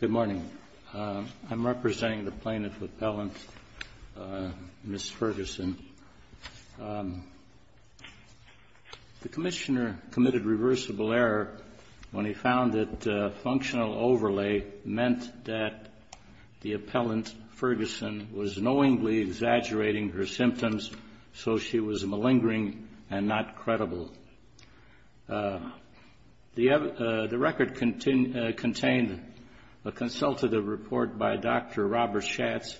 Good morning. I'm representing the plaintiff's appellant, Ms. Ferguson. The commissioner committed reversible error when he found that functional overlay meant that the appellant, Ferguson, was knowingly exaggerating her symptoms so she was malingering and not credible. The record contained a consultative report by Dr. Robert Schatz,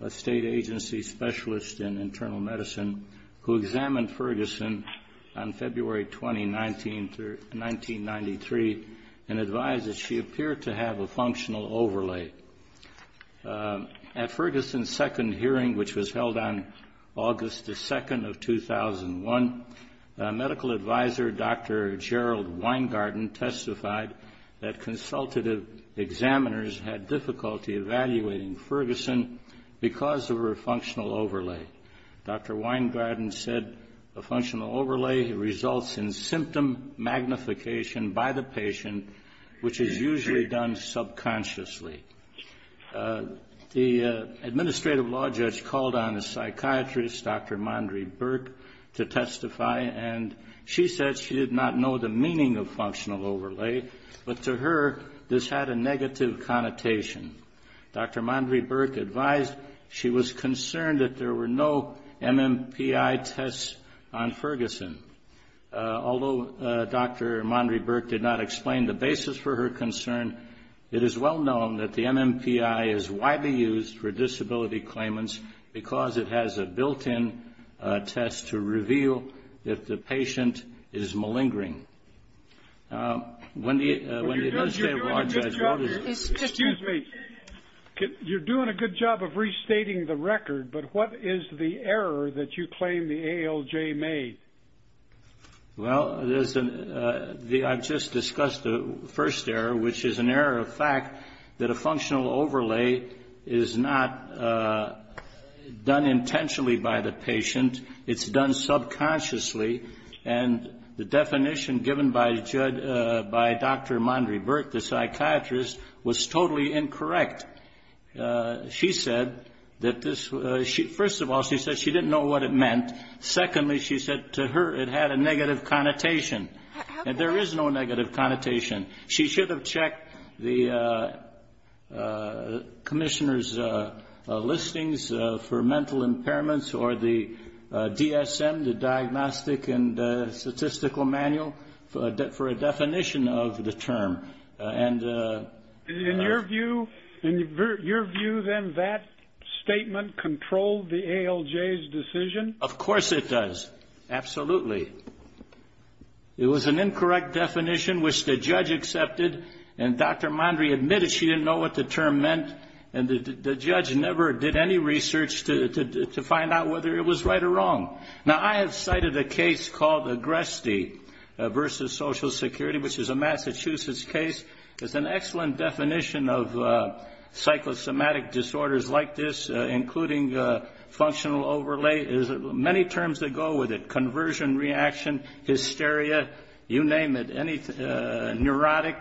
a state agency specialist in internal medicine, who examined Ferguson on February 20, 1993, and advised that she appeared to have a functional overlay. At Ferguson's second hearing, which was held on August 2, 2001, medical advisor Dr. Gerald Weingarten testified that consultative examiners had difficulty evaluating Ferguson because of her functional overlay. Dr. Weingarten said a functional overlay results in symptom magnification by the patient, which is usually done subconsciously. The administrative law judge called on a psychiatrist, Dr. Mondry-Burke, to testify, and she said she did not know the meaning of MMPI tests on Ferguson. Although Dr. Mondry-Burke did not explain the basis for her concern, it is well known that the MMPI is widely used for disability claimants because it has a built-in test to reveal if the patient is malingering. When the administrative law judge wrote it... Excuse me. You're doing a good job of restating the record, but what is the error that you claim the ALJ made? Well, there's an — I've just discussed the first error, which is an error of fact that a functional overlay is not done intentionally by the patient. It's done subconsciously, and the definition given by Dr. Mondry-Burke, the psychiatrist, was totally incorrect. She said that this — first of all, she said she didn't know what it meant. Secondly, she said to her it had a negative connotation. How could that be? I checked the commissioner's listings for mental impairments or the DSM, the Diagnostic and Statistical Manual, for a definition of the term. And... In your view, then, that statement controlled the ALJ's decision? Of course it does. Absolutely. It was an incorrect definition, which the judge accepted. And Dr. Mondry admitted she didn't know what the term meant, and the judge never did any research to find out whether it was right or wrong. Now, I have cited a case called Agresti v. Social Security, which is a Massachusetts case. There's an excellent definition of psychosomatic disorders like this, including functional overlay. There's many terms that go with it — conversion reaction, hysteria, you name it, neurotic.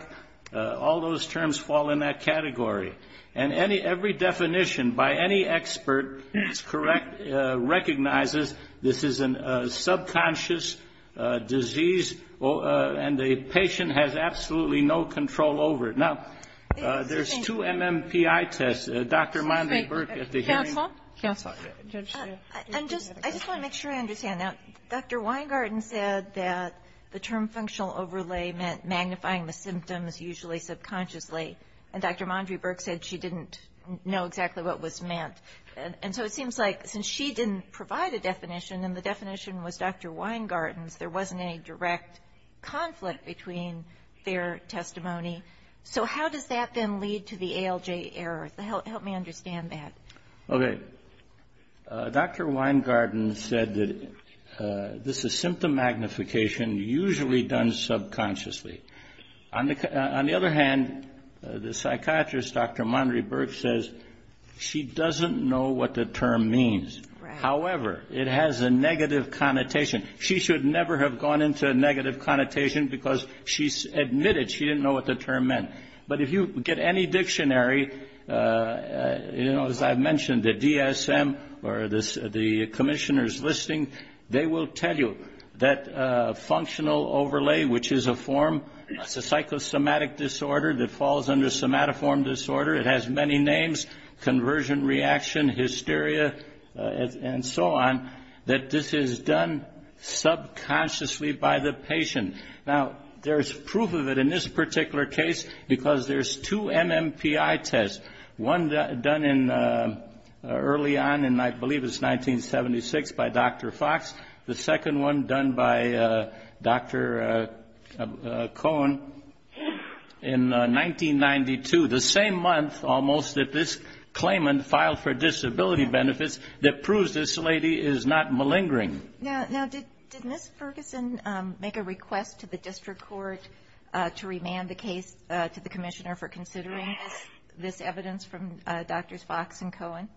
All those terms fall in that category. And every definition, by any expert, is correct, recognizes this is a subconscious disease, and the patient has absolutely no control over it. Now, there's two MMPI tests. Dr. Mondry-Burk at the hearing... Counsel? Counsel. I just want to make sure I understand. Now, Dr. Weingarten said that the term functional overlay meant magnifying the symptoms, usually subconsciously, and Dr. Mondry-Burk said she didn't know exactly what was meant. And so it seems like since she didn't provide a definition and the definition was Dr. Weingarten's, there wasn't any direct conflict between their testimony. So how does that then lead to the ALJ error? Help me understand that. Okay. Dr. Weingarten said that this is symptom magnification, usually done subconsciously. On the other hand, the psychiatrist, Dr. Mondry-Burk, says she doesn't know what the term means. However, it has a negative connotation. She should never have gone into a negative connotation because she admitted she didn't know what the term meant. But if you get any dictionary, you know, as I mentioned, the DSM or the commissioner's listing, they will tell you that functional overlay, which is a form, it's a psychosomatic disorder that falls under somatoform disorder. It has many names, conversion reaction, hysteria, and so on, that this is done subconsciously by the patient. Now, there's proof of it in this particular case because there's two MMPI tests, one done early on in I believe it's 1976 by Dr. Fox, the second one done by Dr. Cohen in 1992, the same month almost that this claimant filed for disability benefits that proves this lady is not malingering. Now, did Ms. Ferguson make a request to the district court to remand the case to the commissioner for considering this evidence from Drs. Fox and Cohen?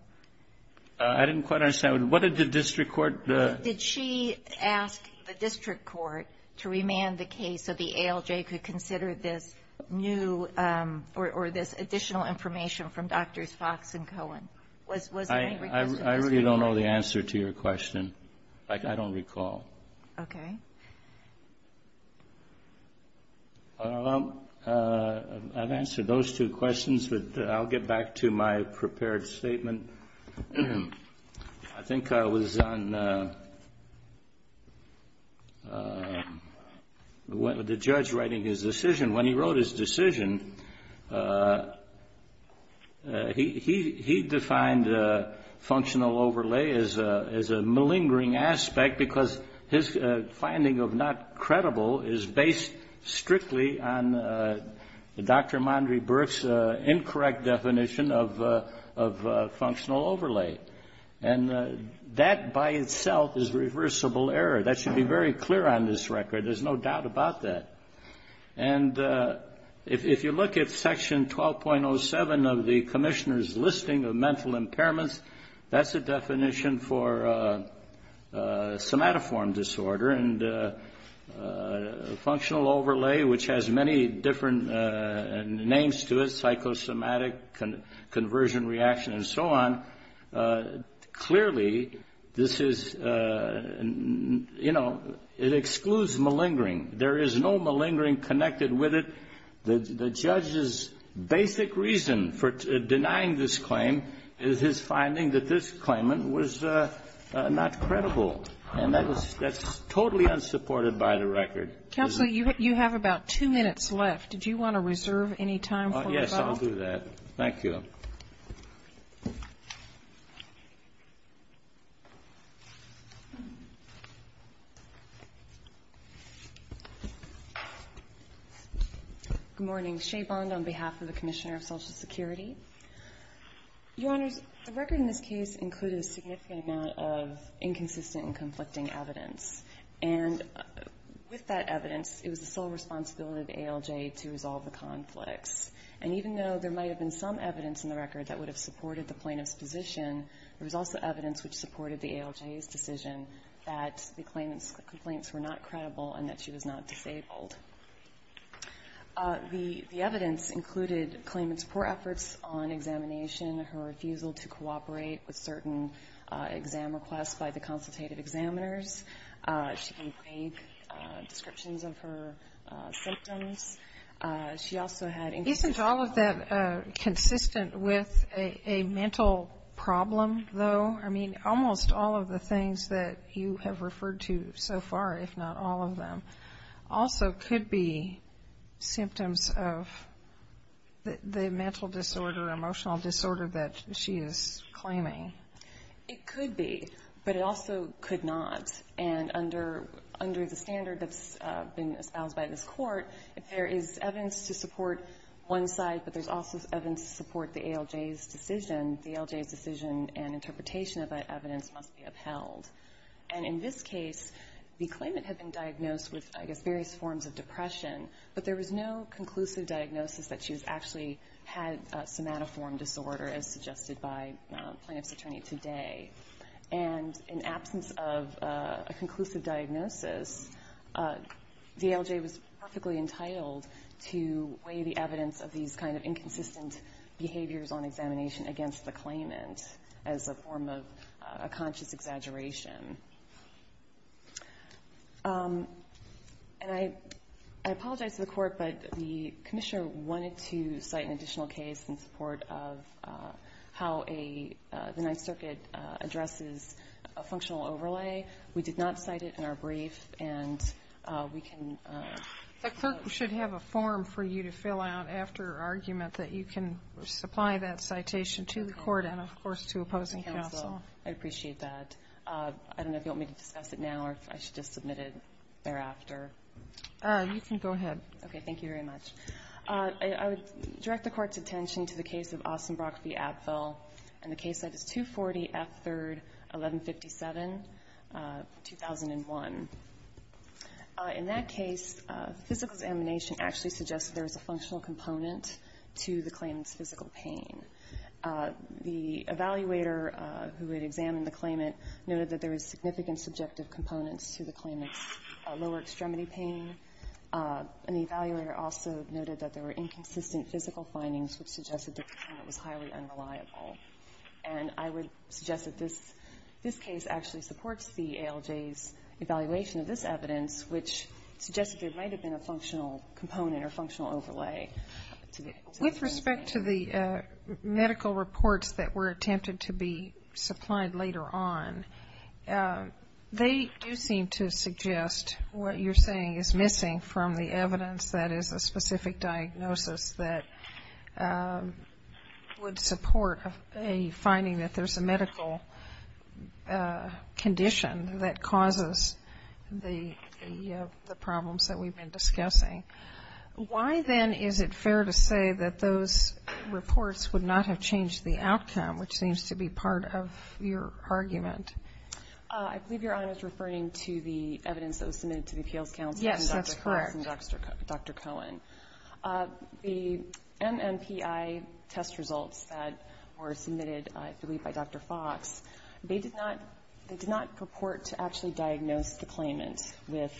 I didn't quite understand. What did the district court do? Did she ask the district court to remand the case so the ALJ could consider this new I really don't know the answer to your question. I don't recall. Okay. I've answered those two questions, but I'll get back to my prepared statement. I think I was on the judge writing his decision. When he wrote his decision, he defined functional overlay as a malingering aspect because his finding of not credible is based strictly on Dr. Mondry-Burke's incorrect definition of functional overlay, and that by itself is reversible error. That should be very clear on this record. There's no doubt about that. And if you look at section 12.07 of the commissioner's listing of mental impairments, that's a definition for somatoform disorder, and functional overlay, which has many different names to it, psychosomatic, conversion reaction, and so on, clearly, this is, you know, it excludes malingering. There is no malingering connected with it. The judge's basic reason for denying this claim is his finding that this claimant was not credible, and that's totally unsupported by the record. Counsel, you have about two minutes left. Do you want to reserve any time for rebuttal? Yes, I'll do that. Thank you. Good morning. Shea Bond on behalf of the Commissioner of Social Security. Your Honors, the record in this case included a significant amount of inconsistent and conflicting evidence, and with that evidence, it was the sole responsibility of ALJ to resolve the conflicts. And even though there might have been some evidence in the record that would have supported the plaintiff's position, there was also evidence which supported the ALJ's decision that the claimant's complaints were not credible and that she was not disabled. The evidence included claimant's poor efforts on examination, her refusal to cooperate with certain exam requests by the consultative examiners. She can break descriptions of her symptoms. Isn't all of that consistent with a mental problem, though? I mean, almost all of the things that you have referred to so far, if not all of them, also could be symptoms of the mental disorder, emotional disorder that she is claiming. It could be, but it also could not. And under the standard that's been espoused by this Court, if there is evidence to support one side, but there's also evidence to support the ALJ's decision, the ALJ's decision and interpretation of that evidence must be upheld. And in this case, the claimant had been diagnosed with, I guess, various forms of depression, but there was no conclusive diagnosis that she actually had somatoform disorder, as suggested by the plaintiff's attorney today. And in absence of a conclusive diagnosis, the ALJ was perfectly entitled to weigh the evidence of these kind of inconsistent behaviors on examination against the claimant as a form of a conscious exaggeration. And I apologize to the Court, but the Commissioner wanted to cite an additional case in support of how the Ninth Circuit addresses a functional overlay. We did not cite it in our brief, and we can ---- The clerk should have a form for you to fill out after your argument that you can supply that citation to the Court and, of course, to opposing counsel. I appreciate that. I don't know if you want me to discuss it now or if I should just submit it thereafter. You can go ahead. Okay. Thank you very much. I would direct the Court's attention to the case of Ossenbrock v. Apfel. And the case is 240 F. 3rd, 1157, 2001. In that case, physical examination actually suggests there is a functional component to the claimant's physical pain. The evaluator who had examined the claimant noted that there was significant subjective components to the claimant's lower extremity pain. And the evaluator also noted that there were inconsistent physical findings which suggested that the claimant was highly unreliable. And I would suggest that this case actually supports the ALJ's evaluation of this evidence, which suggests that there might have been a functional component or functional overlay. With respect to the medical reports that were attempted to be supplied later on, they do seem to suggest what you're saying is missing from the evidence that is a specific diagnosis that would support a finding that there's a medical condition that causes the problems that we've been discussing. Why, then, is it fair to say that those reports would not have changed the outcome, which seems to be part of your argument? I believe Your Honor is referring to the evidence that was submitted to the appeals council. Yes, that's correct. And Dr. Collins and Dr. Cohen. The MMPI test results that were submitted, I believe, by Dr. Fox, they did not purport to actually diagnose the claimant with,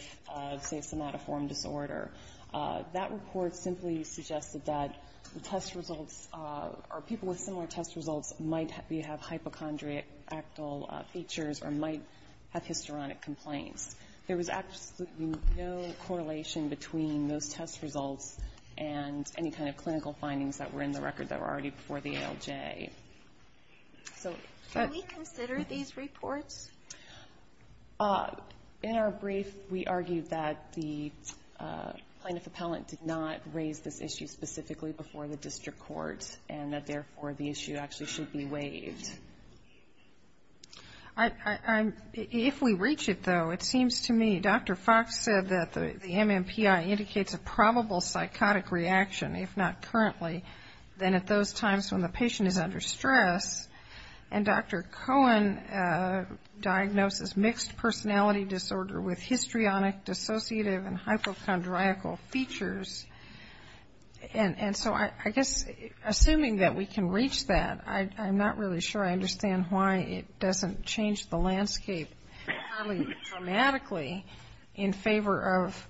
say, somatoform disorder. That report simply suggested that the test results or people with similar test results might have hypochondriacal features or might have hysteronic complaints. There was absolutely no correlation between those test results and any kind of clinical findings that were in the record that were already before the ALJ. Can we consider these reports? In our brief, we argued that the plaintiff-appellant did not raise this issue specifically before the district court and that, therefore, the issue actually should be waived. If we reach it, though, it seems to me Dr. Fox said that the MMPI indicates a probable psychotic reaction, if not currently, then at those times when the patient is under stress. And Dr. Cohen diagnoses mixed personality disorder with hysteronic, dissociative, and hypochondriacal features. And so I guess assuming that we can reach that, I'm not really sure I understand why it doesn't change the landscape probably dramatically in favor of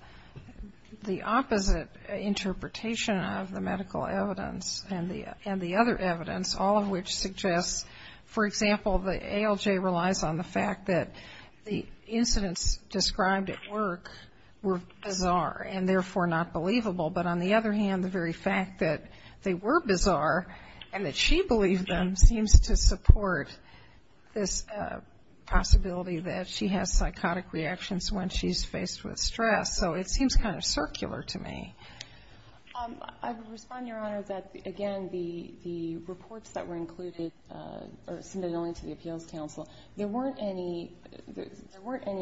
the opposite interpretation of the medical evidence and the other evidence, all of which suggests, for example, the ALJ relies on the fact that the incidents described at work were bizarre and, therefore, not believable. But on the other hand, the very fact that they were bizarre and that she believed them seems to support this possibility that she has psychotic reactions when she's faced with stress. So it seems kind of circular to me. I would respond, Your Honor, that, again, the reports that were included are submitted only to the Appeals Council. There weren't any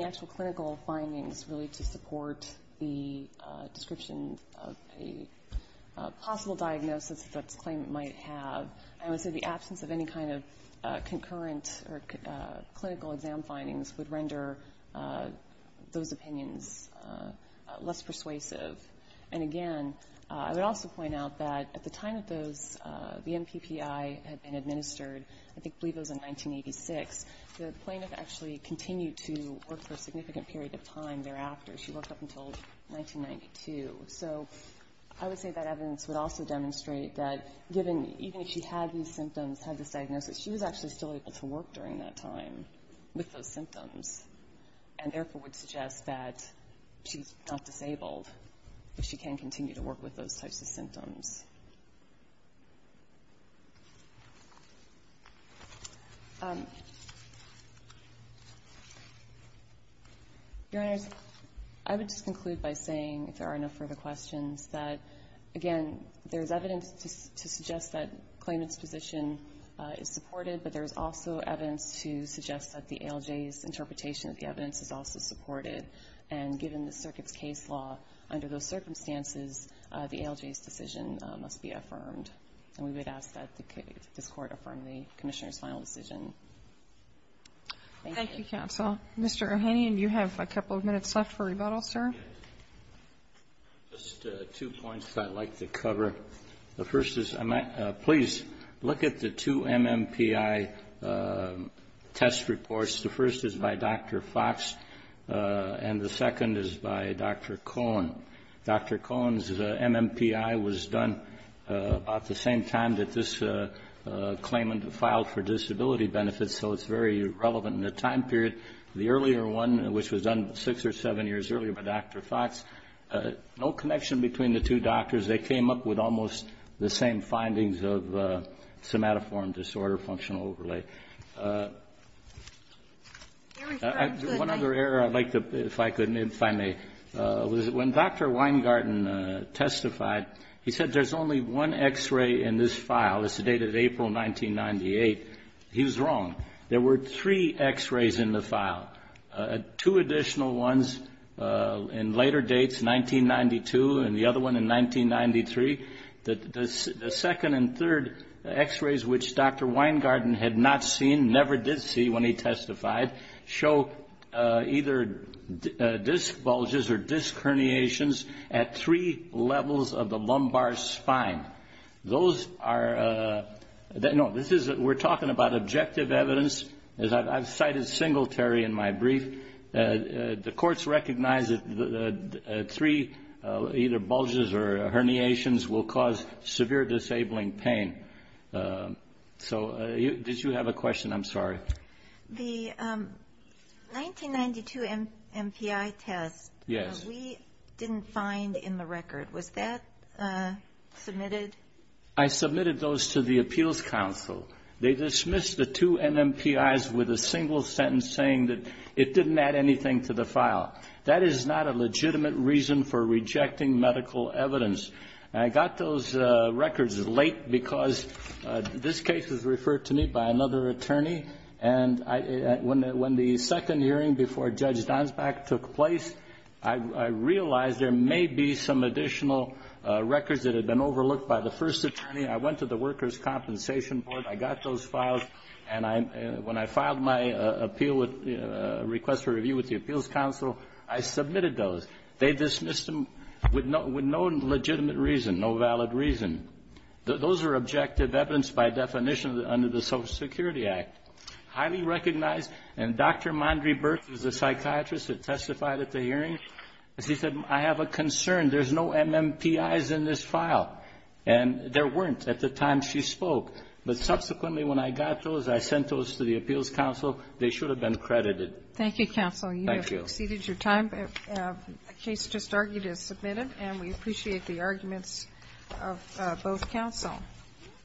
actual clinical findings really to support the description of a possible diagnosis that's claimed it might have. I would say the absence of any kind of concurrent or clinical exam findings would render those opinions less persuasive. And, again, I would also point out that at the time that the MPPI had been administered, I believe it was in 1986, the plaintiff actually continued to work for a significant period of time thereafter. She worked up until 1992. So I would say that evidence would also demonstrate that given even if she had these symptoms, had this diagnosis, she was actually still able to work during that time with those symptoms and therefore would suggest that she's not disabled, that she can continue to work with those types of symptoms. Your Honors, I would just conclude by saying, if there are no further questions, that, again, there is evidence to suggest that claimant's position is supported, but there is also evidence to suggest that the ALJ's interpretation of the evidence is also supported. And given the circuit's case law under those circumstances, the ALJ's decision must be affirmed. And we would ask that this Court affirm the Commissioner's final decision. Thank you. Thank you, counsel. Mr. O'Hanlon, you have a couple of minutes left for rebuttal, sir. Just two points that I'd like to cover. The first is, please look at the two MMPI test reports. The first is by Dr. Fox, and the second is by Dr. Cohen. Dr. Cohen's MMPI was done about the same time that this claimant filed for disability benefits, so it's very relevant in the time period. The earlier one, which was done six or seven years earlier by Dr. Fox, no connection between the two doctors. They came up with almost the same findings of somatoform disorder functional overlay. One other error I'd like to, if I could, if I may, was when Dr. Weingarten testified, he said there's only one X-ray in this file. It's the date of April 1998. He was wrong. There were three X-rays in the file. Two additional ones in later dates, 1992, and the other one in 1993. The second and third X-rays, which Dr. Weingarten had not seen, never did see when he testified, show either disc bulges or disc herniations at three levels of the lumbar spine. We're talking about objective evidence. I've cited Singletary in my brief. The courts recognize that three either bulges or herniations will cause severe disabling pain. Did you have a question? I'm sorry. The 1992 MPI test we didn't find in the record. Was that submitted? I submitted those to the Appeals Council. They dismissed the two NMPIs with a single sentence saying that it didn't add anything to the file. That is not a legitimate reason for rejecting medical evidence. I got those records late because this case was referred to me by another attorney, and when the second hearing before Judge Donsback took place, I realized there may be some additional records that had been overlooked by the first attorney. I went to the Workers' Compensation Board. I got those files, and when I filed my appeal request for review with the Appeals Council, I submitted those. They dismissed them with no legitimate reason, no valid reason. Those are objective evidence by definition under the Social Security Act, highly recognized. And Dr. Mondry-Burk is a psychiatrist that testified at the hearing. She said, I have a concern. There's no NMPIs in this file. And there weren't at the time she spoke. But subsequently when I got those, I sent those to the Appeals Council. They should have been credited. Thank you, counsel. Thank you. You have exceeded your time. A case just argued is submitted, and we appreciate the arguments of both counsel.